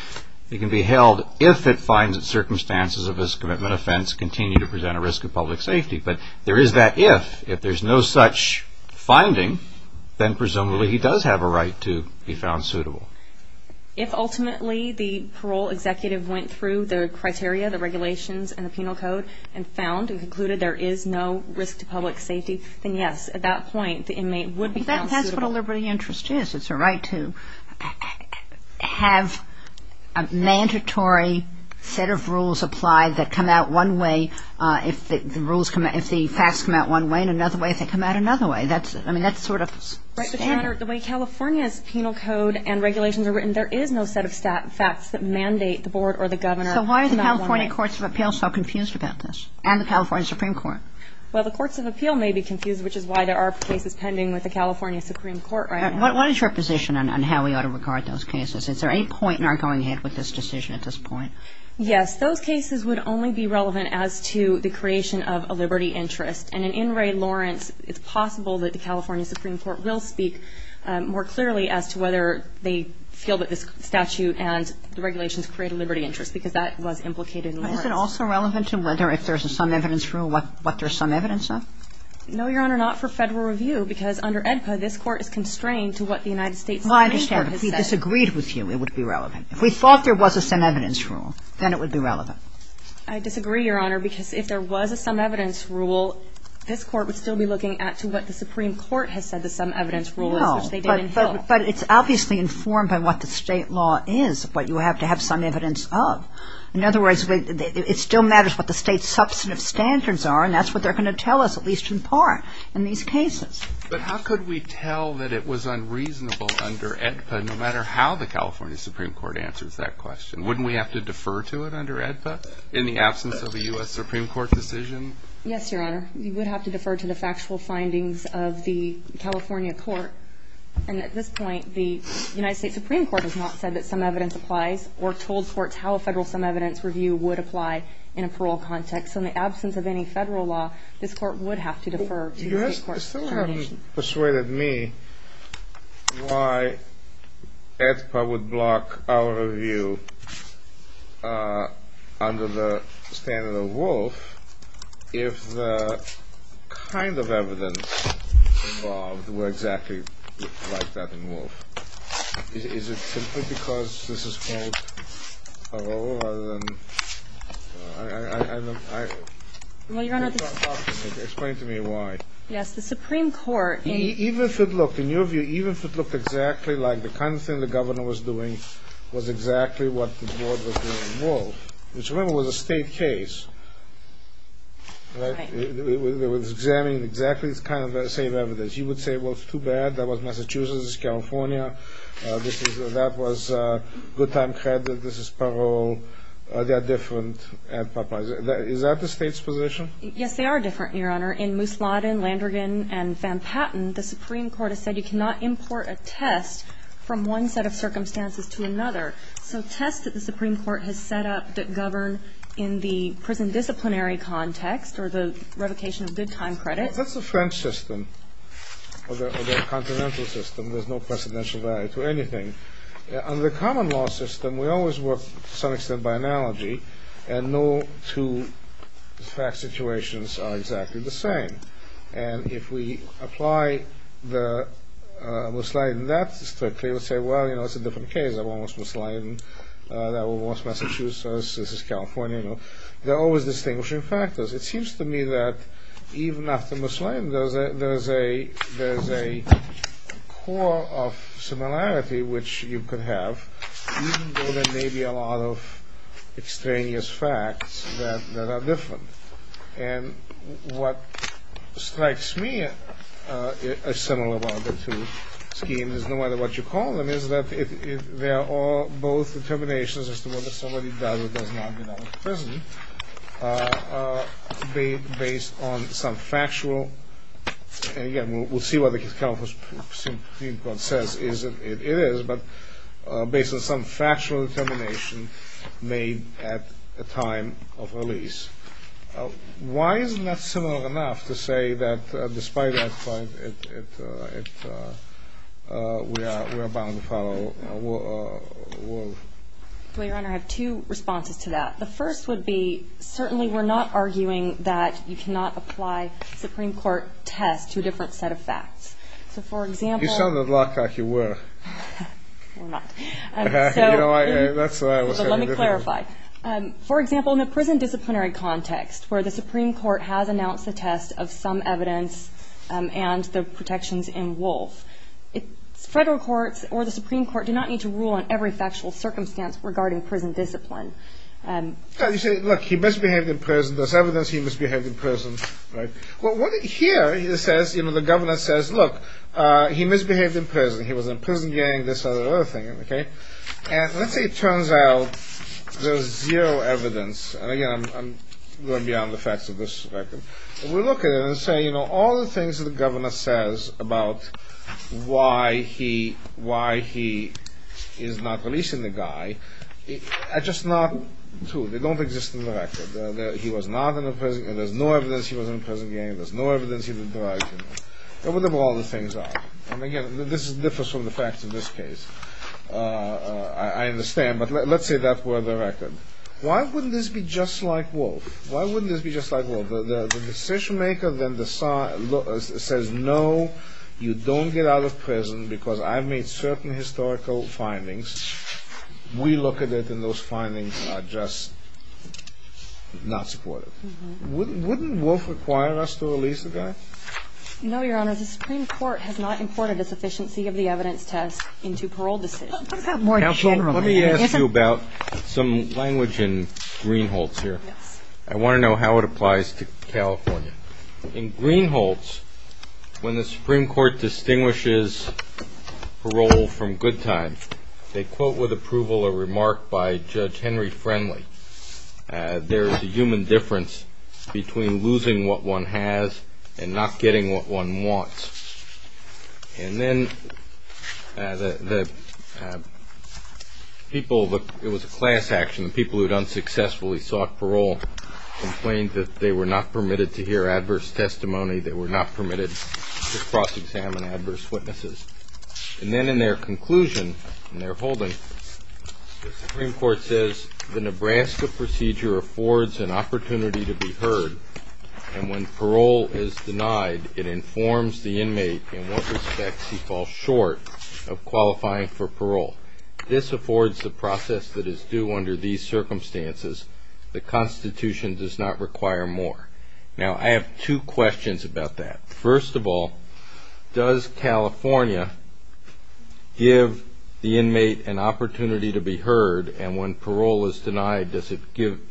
it can be held if it finds that circumstances of this commitment offense continue to present a risk of public safety. But there is that if. If there's no such finding, then presumably he does have a right to be found suitable. If ultimately the parole executive went through the criteria, the regulations, and the penal code and found and concluded there is no risk to public safety, then yes, at that point the inmate would be found suitable. But that's what a liberty of interest is. It's a right to have a mandatory set of rules apply that come out one way if the rules come out, if the facts come out one way and another way if they come out another way. I mean, that's sort of standard. Right. The way California's penal code and regulations are written, there is no set of facts that mandate the board or the governor to not want to make. So why are the California courts of appeals so confused about this and the California Supreme Court? Well, the courts of appeal may be confused, which is why there are cases pending with the California Supreme Court right now. What is your position on how we ought to regard those cases? Is there any point in our going ahead with this decision at this point? Yes. Those cases would only be relevant as to the creation of a liberty interest. And in In re Lawrence, it's possible that the California Supreme Court will speak more clearly as to whether they feel that this statute and the regulations create a liberty interest, because that was implicated in Lawrence. But is it also relevant to whether if there's a sum evidence rule, what there's sum evidence of? No, Your Honor, not for Federal review, because under AEDPA, this Court is constrained to what the United States Supreme Court has said. Well, I understand. If we disagreed with you, it would be relevant. If we thought there was a sum evidence rule, then it would be relevant. I disagree, Your Honor, because if there was a sum evidence rule, this Court would still be looking at to what the Supreme Court has said the sum evidence rule is, which they did in Hill. No, but it's obviously informed by what the State law is, what you have to have sum evidence of. In other words, it still matters what the State substantive standards are, and that's what they're going to tell us, at least in part, in these cases. But how could we tell that it was unreasonable under AEDPA, no matter how the California Supreme Court answers that question? Wouldn't we have to defer to it under AEDPA in the absence of a U.S. Supreme Court decision? Yes, Your Honor. We would have to defer to the factual findings of the California Court. And at this point, the United States Supreme Court has not said that sum evidence applies or told courts how a Federal sum evidence review would apply in a parole context. So in the absence of any Federal law, this Court would have to defer to the State Court. I still haven't persuaded me why AEDPA would block our review under the standard of Wolfe if the kind of evidence involved were exactly like that in Wolfe. Is it simply because this is called a role rather than – I don't know. Well, Your Honor, I think it's false. Explain to me why. Yes. The Supreme Court in – Even if it looked – in your view, even if it looked exactly like the kind of thing the governor was doing was exactly what the board was doing in Wolfe, which remember was a State case, right? Right. It was examining exactly the kind of same evidence. You would say, well, it's too bad. That was Massachusetts. This is California. This is – that was good time credit. This is parole. They are different. Is that the State's position? Yes, they are different, Your Honor. In Moosladden, Landrigan, and Van Patten, the Supreme Court has said you cannot import a test from one set of circumstances to another. So tests that the Supreme Court has set up that govern in the prison disciplinary context or the revocation of good time credits – That's the French system or the continental system. There's no precedential value to anything. Under the common law system, we always work to some extent by analogy, and no two fact situations are exactly the same. And if we apply the Moosladden that strictly, we'll say, well, you know, it's a different case. That was Moosladden. That was Massachusetts. This is California. You know, there are always distinguishing factors. It seems to me that even after Moosladden, there is a core of similarity which you could have, even though there may be a lot of extraneous facts that are different. And what strikes me as similar about the two schemes is no matter what you call them, is that they are both determinations as to whether somebody does or does not get out of prison based on some factual – and again, we'll see what the California Supreme Court says it is – but based on some factual determination made at the time of release. Why isn't that similar enough to say that despite that point, we are bound to follow – Well, Your Honor, I have two responses to that. The first would be, certainly we're not arguing that you cannot apply a Supreme Court test to a different set of facts. So for example – You sound a lot like you were. We're not. So let me clarify. For example, in a prison disciplinary context where the Supreme Court has announced a test of some evidence and the protections in Wolf, federal courts or the Supreme Court do not need to rule on every factual circumstance regarding prison discipline. You say, look, he must behave in prison. There's evidence he must behave in prison. Well, here it says, the governor says, look, he misbehaved in prison. He was in a prison gang, this other thing. And let's say it turns out there's zero evidence. And again, I'm going beyond the facts of this record. We look at it and say all the things the governor says about why he is not releasing the guy are just not true. They don't exist in the record. He was not in a prison gang. There's no evidence he was in a prison gang. There's no evidence he was in a prison gang. Whatever all the things are. And again, this differs from the facts in this case. I understand. But let's say that were the record. Why wouldn't this be just like Wolf? Why wouldn't this be just like Wolf? The decision maker then says, no, you don't get out of prison because I've made certain historical findings. We look at it and those findings are just not supportive. Wouldn't Wolf require us to release the guy? No, Your Honor. The Supreme Court has not imported a sufficiency of the evidence test into parole decisions. What about more generally? Let me ask you about some language in Greenholz here. I want to know how it applies to California. In Greenholz, when the Supreme Court distinguishes parole from good times, they quote with approval a remark by Judge Henry Friendly, there is a human difference between losing what one has and not getting what one wants. And then the people, it was a class action, the people who had unsuccessfully sought parole complained that they were not permitted to hear adverse testimony, they were not permitted to cross-examine adverse witnesses. And then in their conclusion, in their holding, the Supreme Court says, the Nebraska procedure affords an opportunity to be heard, and when parole is denied it informs the inmate in what respects he falls short of qualifying for parole. This affords the process that is due under these circumstances. The Constitution does not require more. Now, I have two questions about that. First of all, does California give the inmate an opportunity to be heard, and when parole is denied does it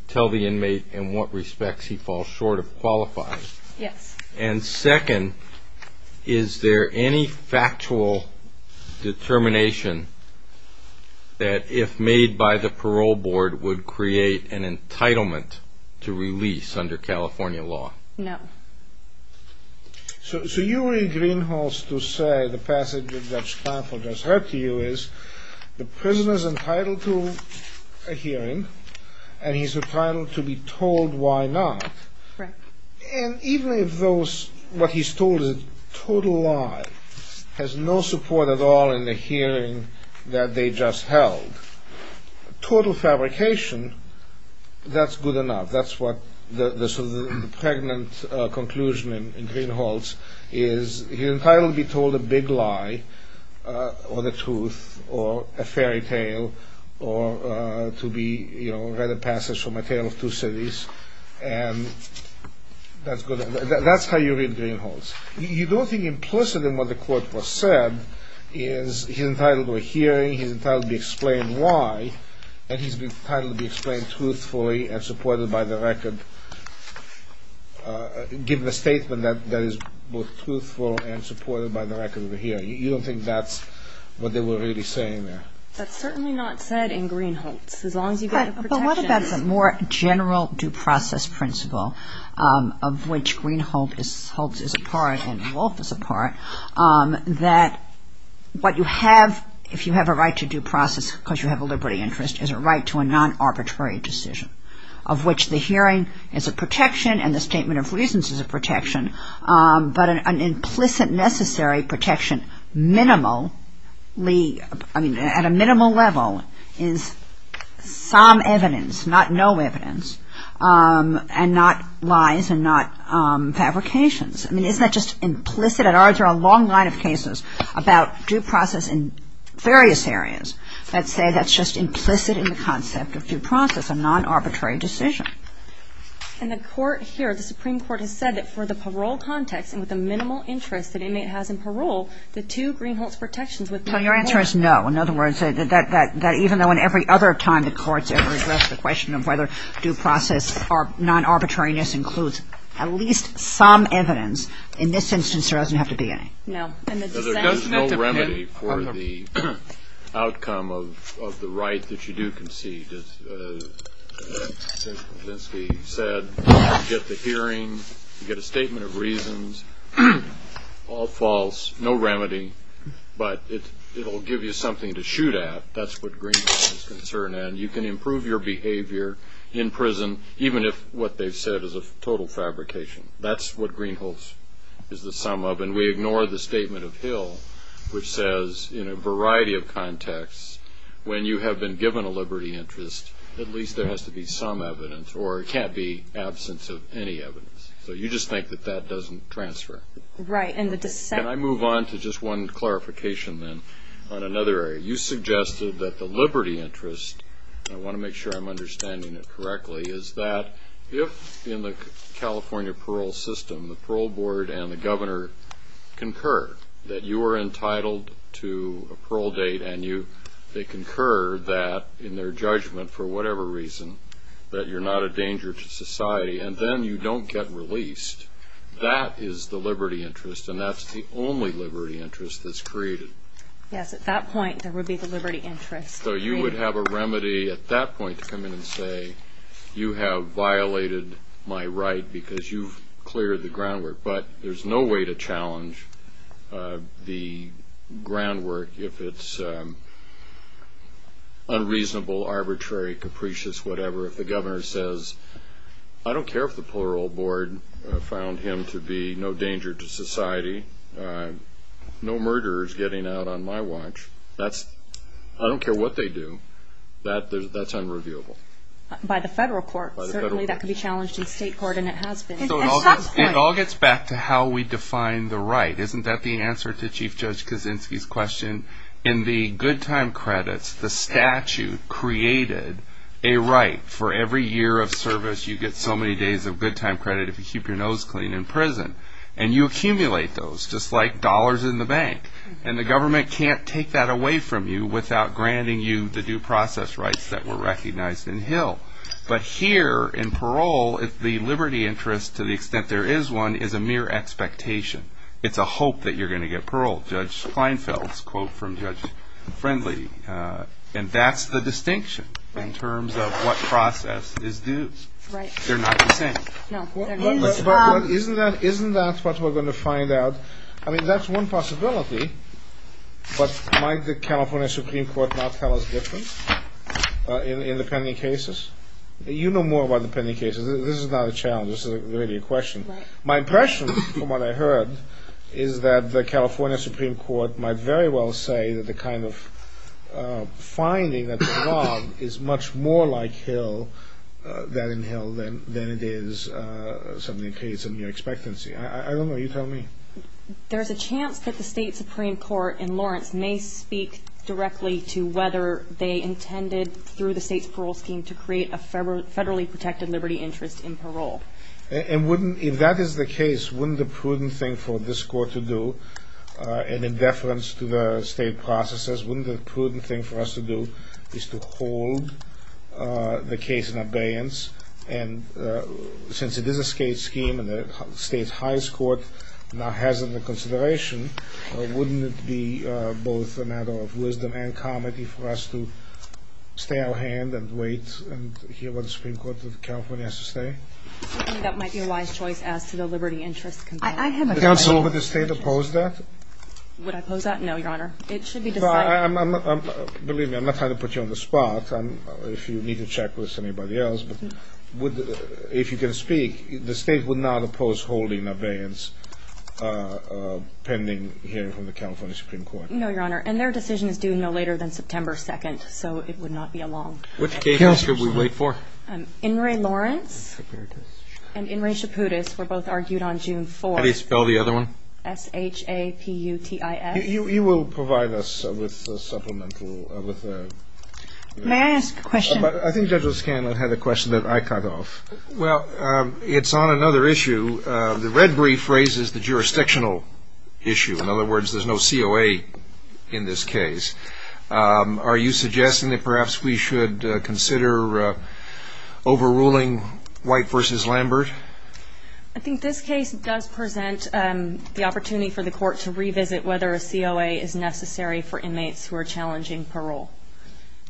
tell the inmate in what respects he falls short of qualifying? Yes. And second, is there any factual determination that if made by the parole board, would create an entitlement to release under California law? No. So you were in Greenhalgh's to say, the passage that Judge Clamp will just read to you is, the prisoner's entitled to a hearing, and he's entitled to be told why not. Right. And even if what he's told is a total lie, has no support at all in the hearing that they just held, total fabrication, that's good enough. That's what the pregnant conclusion in Greenhalgh's is, he's entitled to be told a big lie, or the truth, or a fairy tale, or to be read a passage from A Tale of Two Cities, and that's how you read Greenhalgh's. You don't think implicit in what the court was said is, he's entitled to a hearing, he's entitled to be explained why, and he's entitled to be explained truthfully and supported by the record, given a statement that is both truthful and supported by the record of the hearing. You don't think that's what they were really saying there. That's certainly not said in Greenhalgh's. But what about the more general due process principle, of which Greenhalgh is a part and Wolfe is a part, that what you have, if you have a right to due process because you have a liberty interest, is a right to a non-arbitrary decision, of which the hearing is a protection and the statement of reasons is a protection, but an implicit necessary protection minimally, at a minimal level is some evidence, not no evidence, and not lies and not fabrications. I mean, isn't that just implicit? There are a long line of cases about due process in various areas that say that's just implicit in the concept of due process, a non-arbitrary decision. And the court here, the Supreme Court has said that for the parole context and with the minimal interest that an inmate has in parole, the two Greenhalgh's protections with parole. So your answer is no. In other words, that even though in every other time the courts ever addressed the question of whether due process or non-arbitrariness includes at least some evidence, in this instance there doesn't have to be any. No. There's no remedy for the outcome of the right that you do concede. As Judge Kulinski said, you get the hearing, you get a statement of reasons, all false, no remedy, but it will give you something to shoot at. That's what Greenhalgh's is concerned. And you can improve your behavior in prison even if what they've said is a total fabrication. That's what Greenhalgh's is the sum of. And we ignore the statement of Hill which says in a variety of contexts when you have been given a liberty interest at least there has to be some evidence or it can't be absence of any evidence. So you just think that that doesn't transfer. Right. And the dissent. Can I move on to just one clarification then on another area? You suggested that the liberty interest, and I want to make sure I'm understanding it correctly, is that if in the California parole system the parole board and the governor concur that you are entitled to a parole date and they concur that in their judgment for whatever reason that you're not a danger to society and then you don't get released, that is the liberty interest and that's the only liberty interest that's created. Yes, at that point there would be the liberty interest. So you would have a remedy at that point to come in and say you have violated my right because you've cleared the groundwork, but there's no way to challenge the groundwork if it's unreasonable, arbitrary, capricious, whatever. If the governor says I don't care if the parole board found him to be no danger to society, no murderers getting out on my watch, I don't care what they do, that's unreviewable. By the federal court. Certainly that could be challenged in state court and it has been. It all gets back to how we define the right. Isn't that the answer to Chief Judge Kaczynski's question? In the good time credits the statute created a right for every year of service you get so many days of good time credit if you keep your nose clean in prison and you accumulate those just like dollars in the bank and the government can't take that away from you without granting you the due process rights that were recognized in Hill. But here in parole the liberty interest to the extent there is one is a mere expectation. It's a hope that you're going to get parole. Judge Kleinfeld's quote from Judge Friendly. And that's the distinction in terms of what process is due. They're not the same. Isn't that what we're going to find out? I mean that's one possibility. But might the California Supreme Court not tell us the difference in the pending cases? You know more about the pending cases. This is not a challenge. This is really a question. My impression from what I heard is that the California Supreme Court might very well say that the kind of finding that they want is much more like Hill than in Hill than it is something that creates a mere expectancy. I don't know. You tell me. There's a chance that the state Supreme Court in Lawrence may speak directly to whether they intended through the state's parole scheme to create a federally protected liberty interest in parole. And wouldn't, if that is the case, wouldn't the prudent thing for this court to do, and in deference to the state processes, wouldn't the prudent thing for us to do is to hold the case in abeyance? And since it is a state scheme and the state's highest court now has it in consideration, wouldn't it be both a matter of wisdom and comedy for us to stay our hand and wait and hear what the Supreme Court of California has to say? That might be a wise choice as to the liberty interest complaint. Counsel, would the state oppose that? Would I oppose that? No, Your Honor. It should be decided. Believe me, I'm not trying to put you on the spot. If you need to check with anybody else, but if you can speak, the state would not oppose holding abeyance pending hearing from the California Supreme Court. No, Your Honor, and their decision is due no later than September 2nd, so it would not be a long time. Which case should we wait for? In re Lawrence and in re Chaputis were both argued on June 4th. How do you spell the other one? S-H-A-P-U-T-I-S. You will provide us with a supplemental. May I ask a question? I think Judge O'Scanlan had a question that I cut off. Well, it's on another issue. The red brief raises the jurisdictional issue. In other words, there's no COA in this case. Are you suggesting that perhaps we should consider overruling White v. Lambert? I think this case does present the opportunity for the court to revisit whether a COA is necessary for inmates who are challenging parole.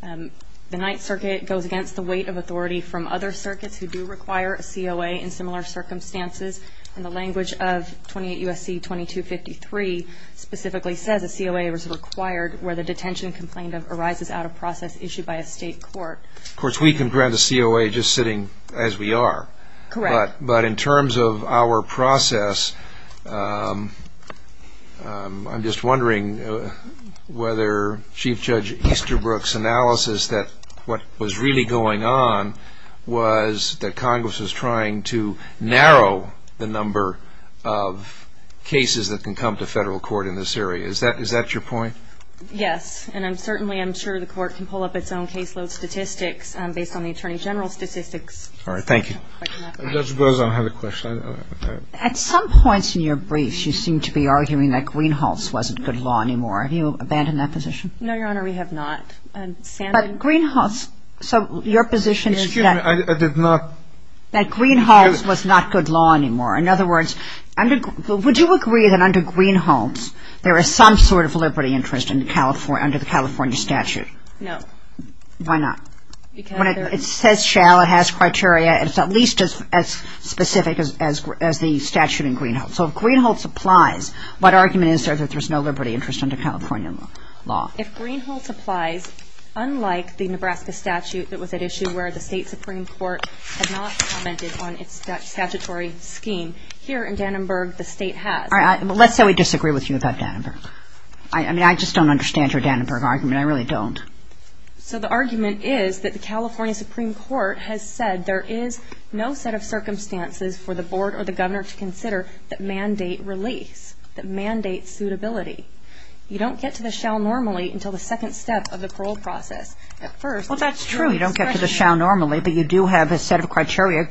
The Ninth Circuit goes against the weight of authority from other circuits who do require a COA in similar circumstances, and the language of 28 U.S.C. 2253 specifically says a COA is required where the detention complaint arises out of process issued by a state court. Of course, we can grant a COA just sitting as we are. Correct. But in terms of our process, I'm just wondering whether Chief Judge Easterbrook's analysis that what was really going on was that Congress was trying to narrow the number of cases that can come to federal court in this area. Is that your point? Yes. And I'm certainly, I'm sure the court can pull up its own caseload statistics based on the Attorney General's statistics. All right. Thank you. Judge Bozon, I have a question. At some points in your brief, you seem to be arguing that Greenhalgh's wasn't good law anymore. Have you abandoned that position? No, Your Honor, we have not. But Greenhalgh's, so your position is that — Excuse me. I did not —— that Greenhalgh's was not good law anymore. In other words, would you agree that under Greenhalgh's, there is some sort of liberty interest under the California statute? No. Why not? Because — It says shall, it has criteria, it's at least as specific as the statute in Greenhalgh's. So if Greenhalgh's applies, what argument is there that there's no liberty interest under California law? If Greenhalgh's applies, unlike the Nebraska statute that was at issue where the state Supreme Court had not commented on its statutory scheme, here in Dannenberg, the state has. All right. Well, let's say we disagree with you about Dannenberg. I mean, I just don't understand your Dannenberg argument. I really don't. So the argument is that the California Supreme Court has said there is no set of circumstances for the board or the governor to consider that mandate release, that mandate suitability. You don't get to the shall normally until the second step of the parole process. Well, that's true. You don't get to the shall normally, but you do have a set of criteria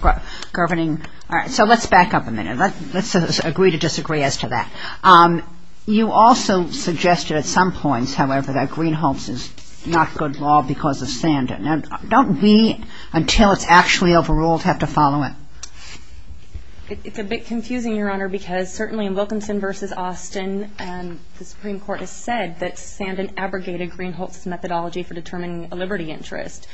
governing. All right. So let's back up a minute. Let's agree to disagree as to that. You also suggested at some points, however, that Greenhalgh's is not good law because of Sandin. Now, don't we, until it's actually overruled, have to follow it? It's a bit confusing, Your Honor, because certainly in Wilkinson v. Austin, the Supreme Court has said that Sandin abrogated Greenhalgh's methodology for determining a liberty interest.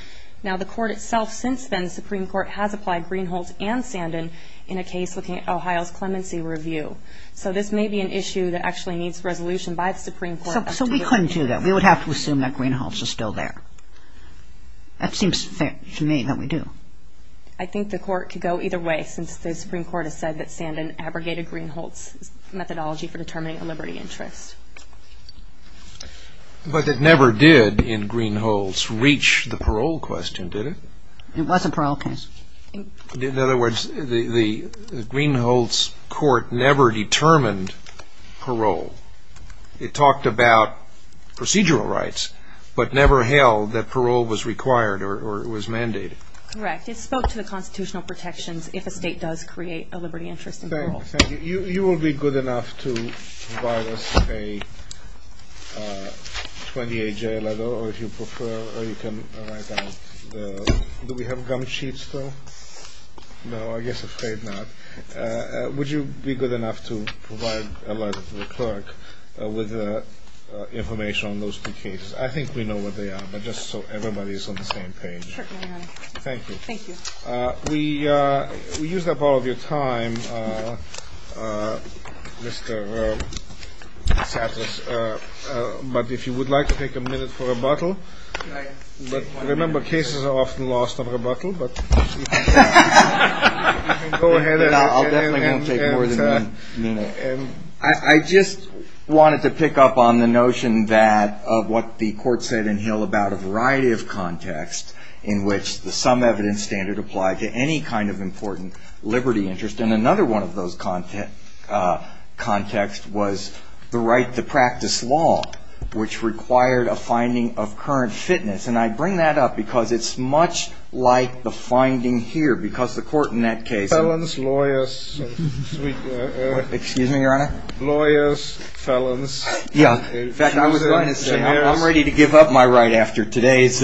Now, the court itself since then, the Supreme Court, has applied Greenhalgh's and Sandin in a case looking at Ohio's clemency review. So this may be an issue that actually needs resolution by the Supreme Court. So we couldn't do that. We would have to assume that Greenhalgh's is still there. That seems fair to me that we do. I think the court could go either way since the Supreme Court has said that Sandin abrogated Greenhalgh's methodology for determining a liberty interest. But it never did in Greenhalgh's reach the parole question, did it? It wasn't parole. In other words, the Greenhalgh's court never determined parole. It talked about procedural rights, but never held that parole was required or was mandated. Correct. It spoke to the constitutional protections if a state does create a liberty interest in parole. Thank you. You will be good enough to provide us a 28-J letter, or if you prefer, or you can write down the—do we have gum sheets still? No, I guess afraid not. Would you be good enough to provide a letter to the clerk with information on those two cases? I think we know what they are, but just so everybody is on the same page. Certainly, Your Honor. Thank you. Thank you. We used up all of your time, Mr. DeSantis, but if you would like to take a minute for rebuttal. But remember, cases are often lost on rebuttal. You can go ahead. I'll definitely take more than one minute. I just wanted to pick up on the notion of what the Court said in Hill about a variety of contexts in which the sum evidence standard applied to any kind of important liberty interest. And another one of those contexts was the right to practice law, which required a finding of current fitness. And I bring that up because it's much like the finding here, because the Court in that case— Felons, lawyers— Excuse me, Your Honor? Lawyers, felons. In fact, I was going to say, I'm ready to give up my right after today's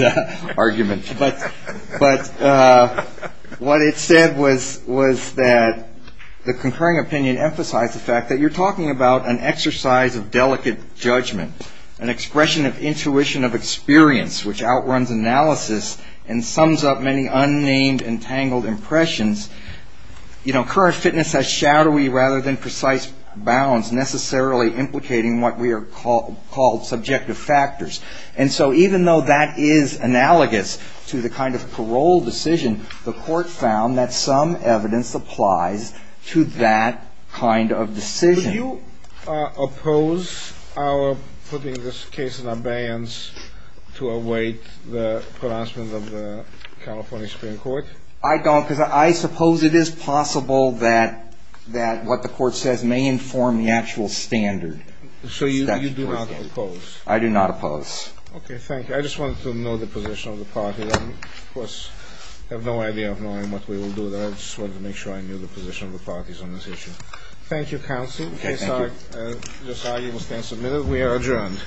argument. But what it said was that the concurring opinion emphasized the fact that you're talking about an exercise of delicate judgment, an expression of intuition of experience which outruns analysis and sums up many unnamed entangled impressions. You know, current fitness has shadowy rather than precise bounds necessarily implicating what we are called subjective factors. And so even though that is analogous to the kind of parole decision, the Court found that sum evidence applies to that kind of decision. Do you oppose our putting this case in abeyance to await the pronouncement of the California Supreme Court? I don't, because I suppose it is possible that what the Court says may inform the actual standard. So you do not oppose? I do not oppose. Okay, thank you. I just wanted to know the position of the parties. I, of course, have no idea of knowing what we will do, but I just wanted to make sure I knew the position of the parties on this issue. Thank you, counsel. Okay, thank you. This argument stands submitted. We are adjourned.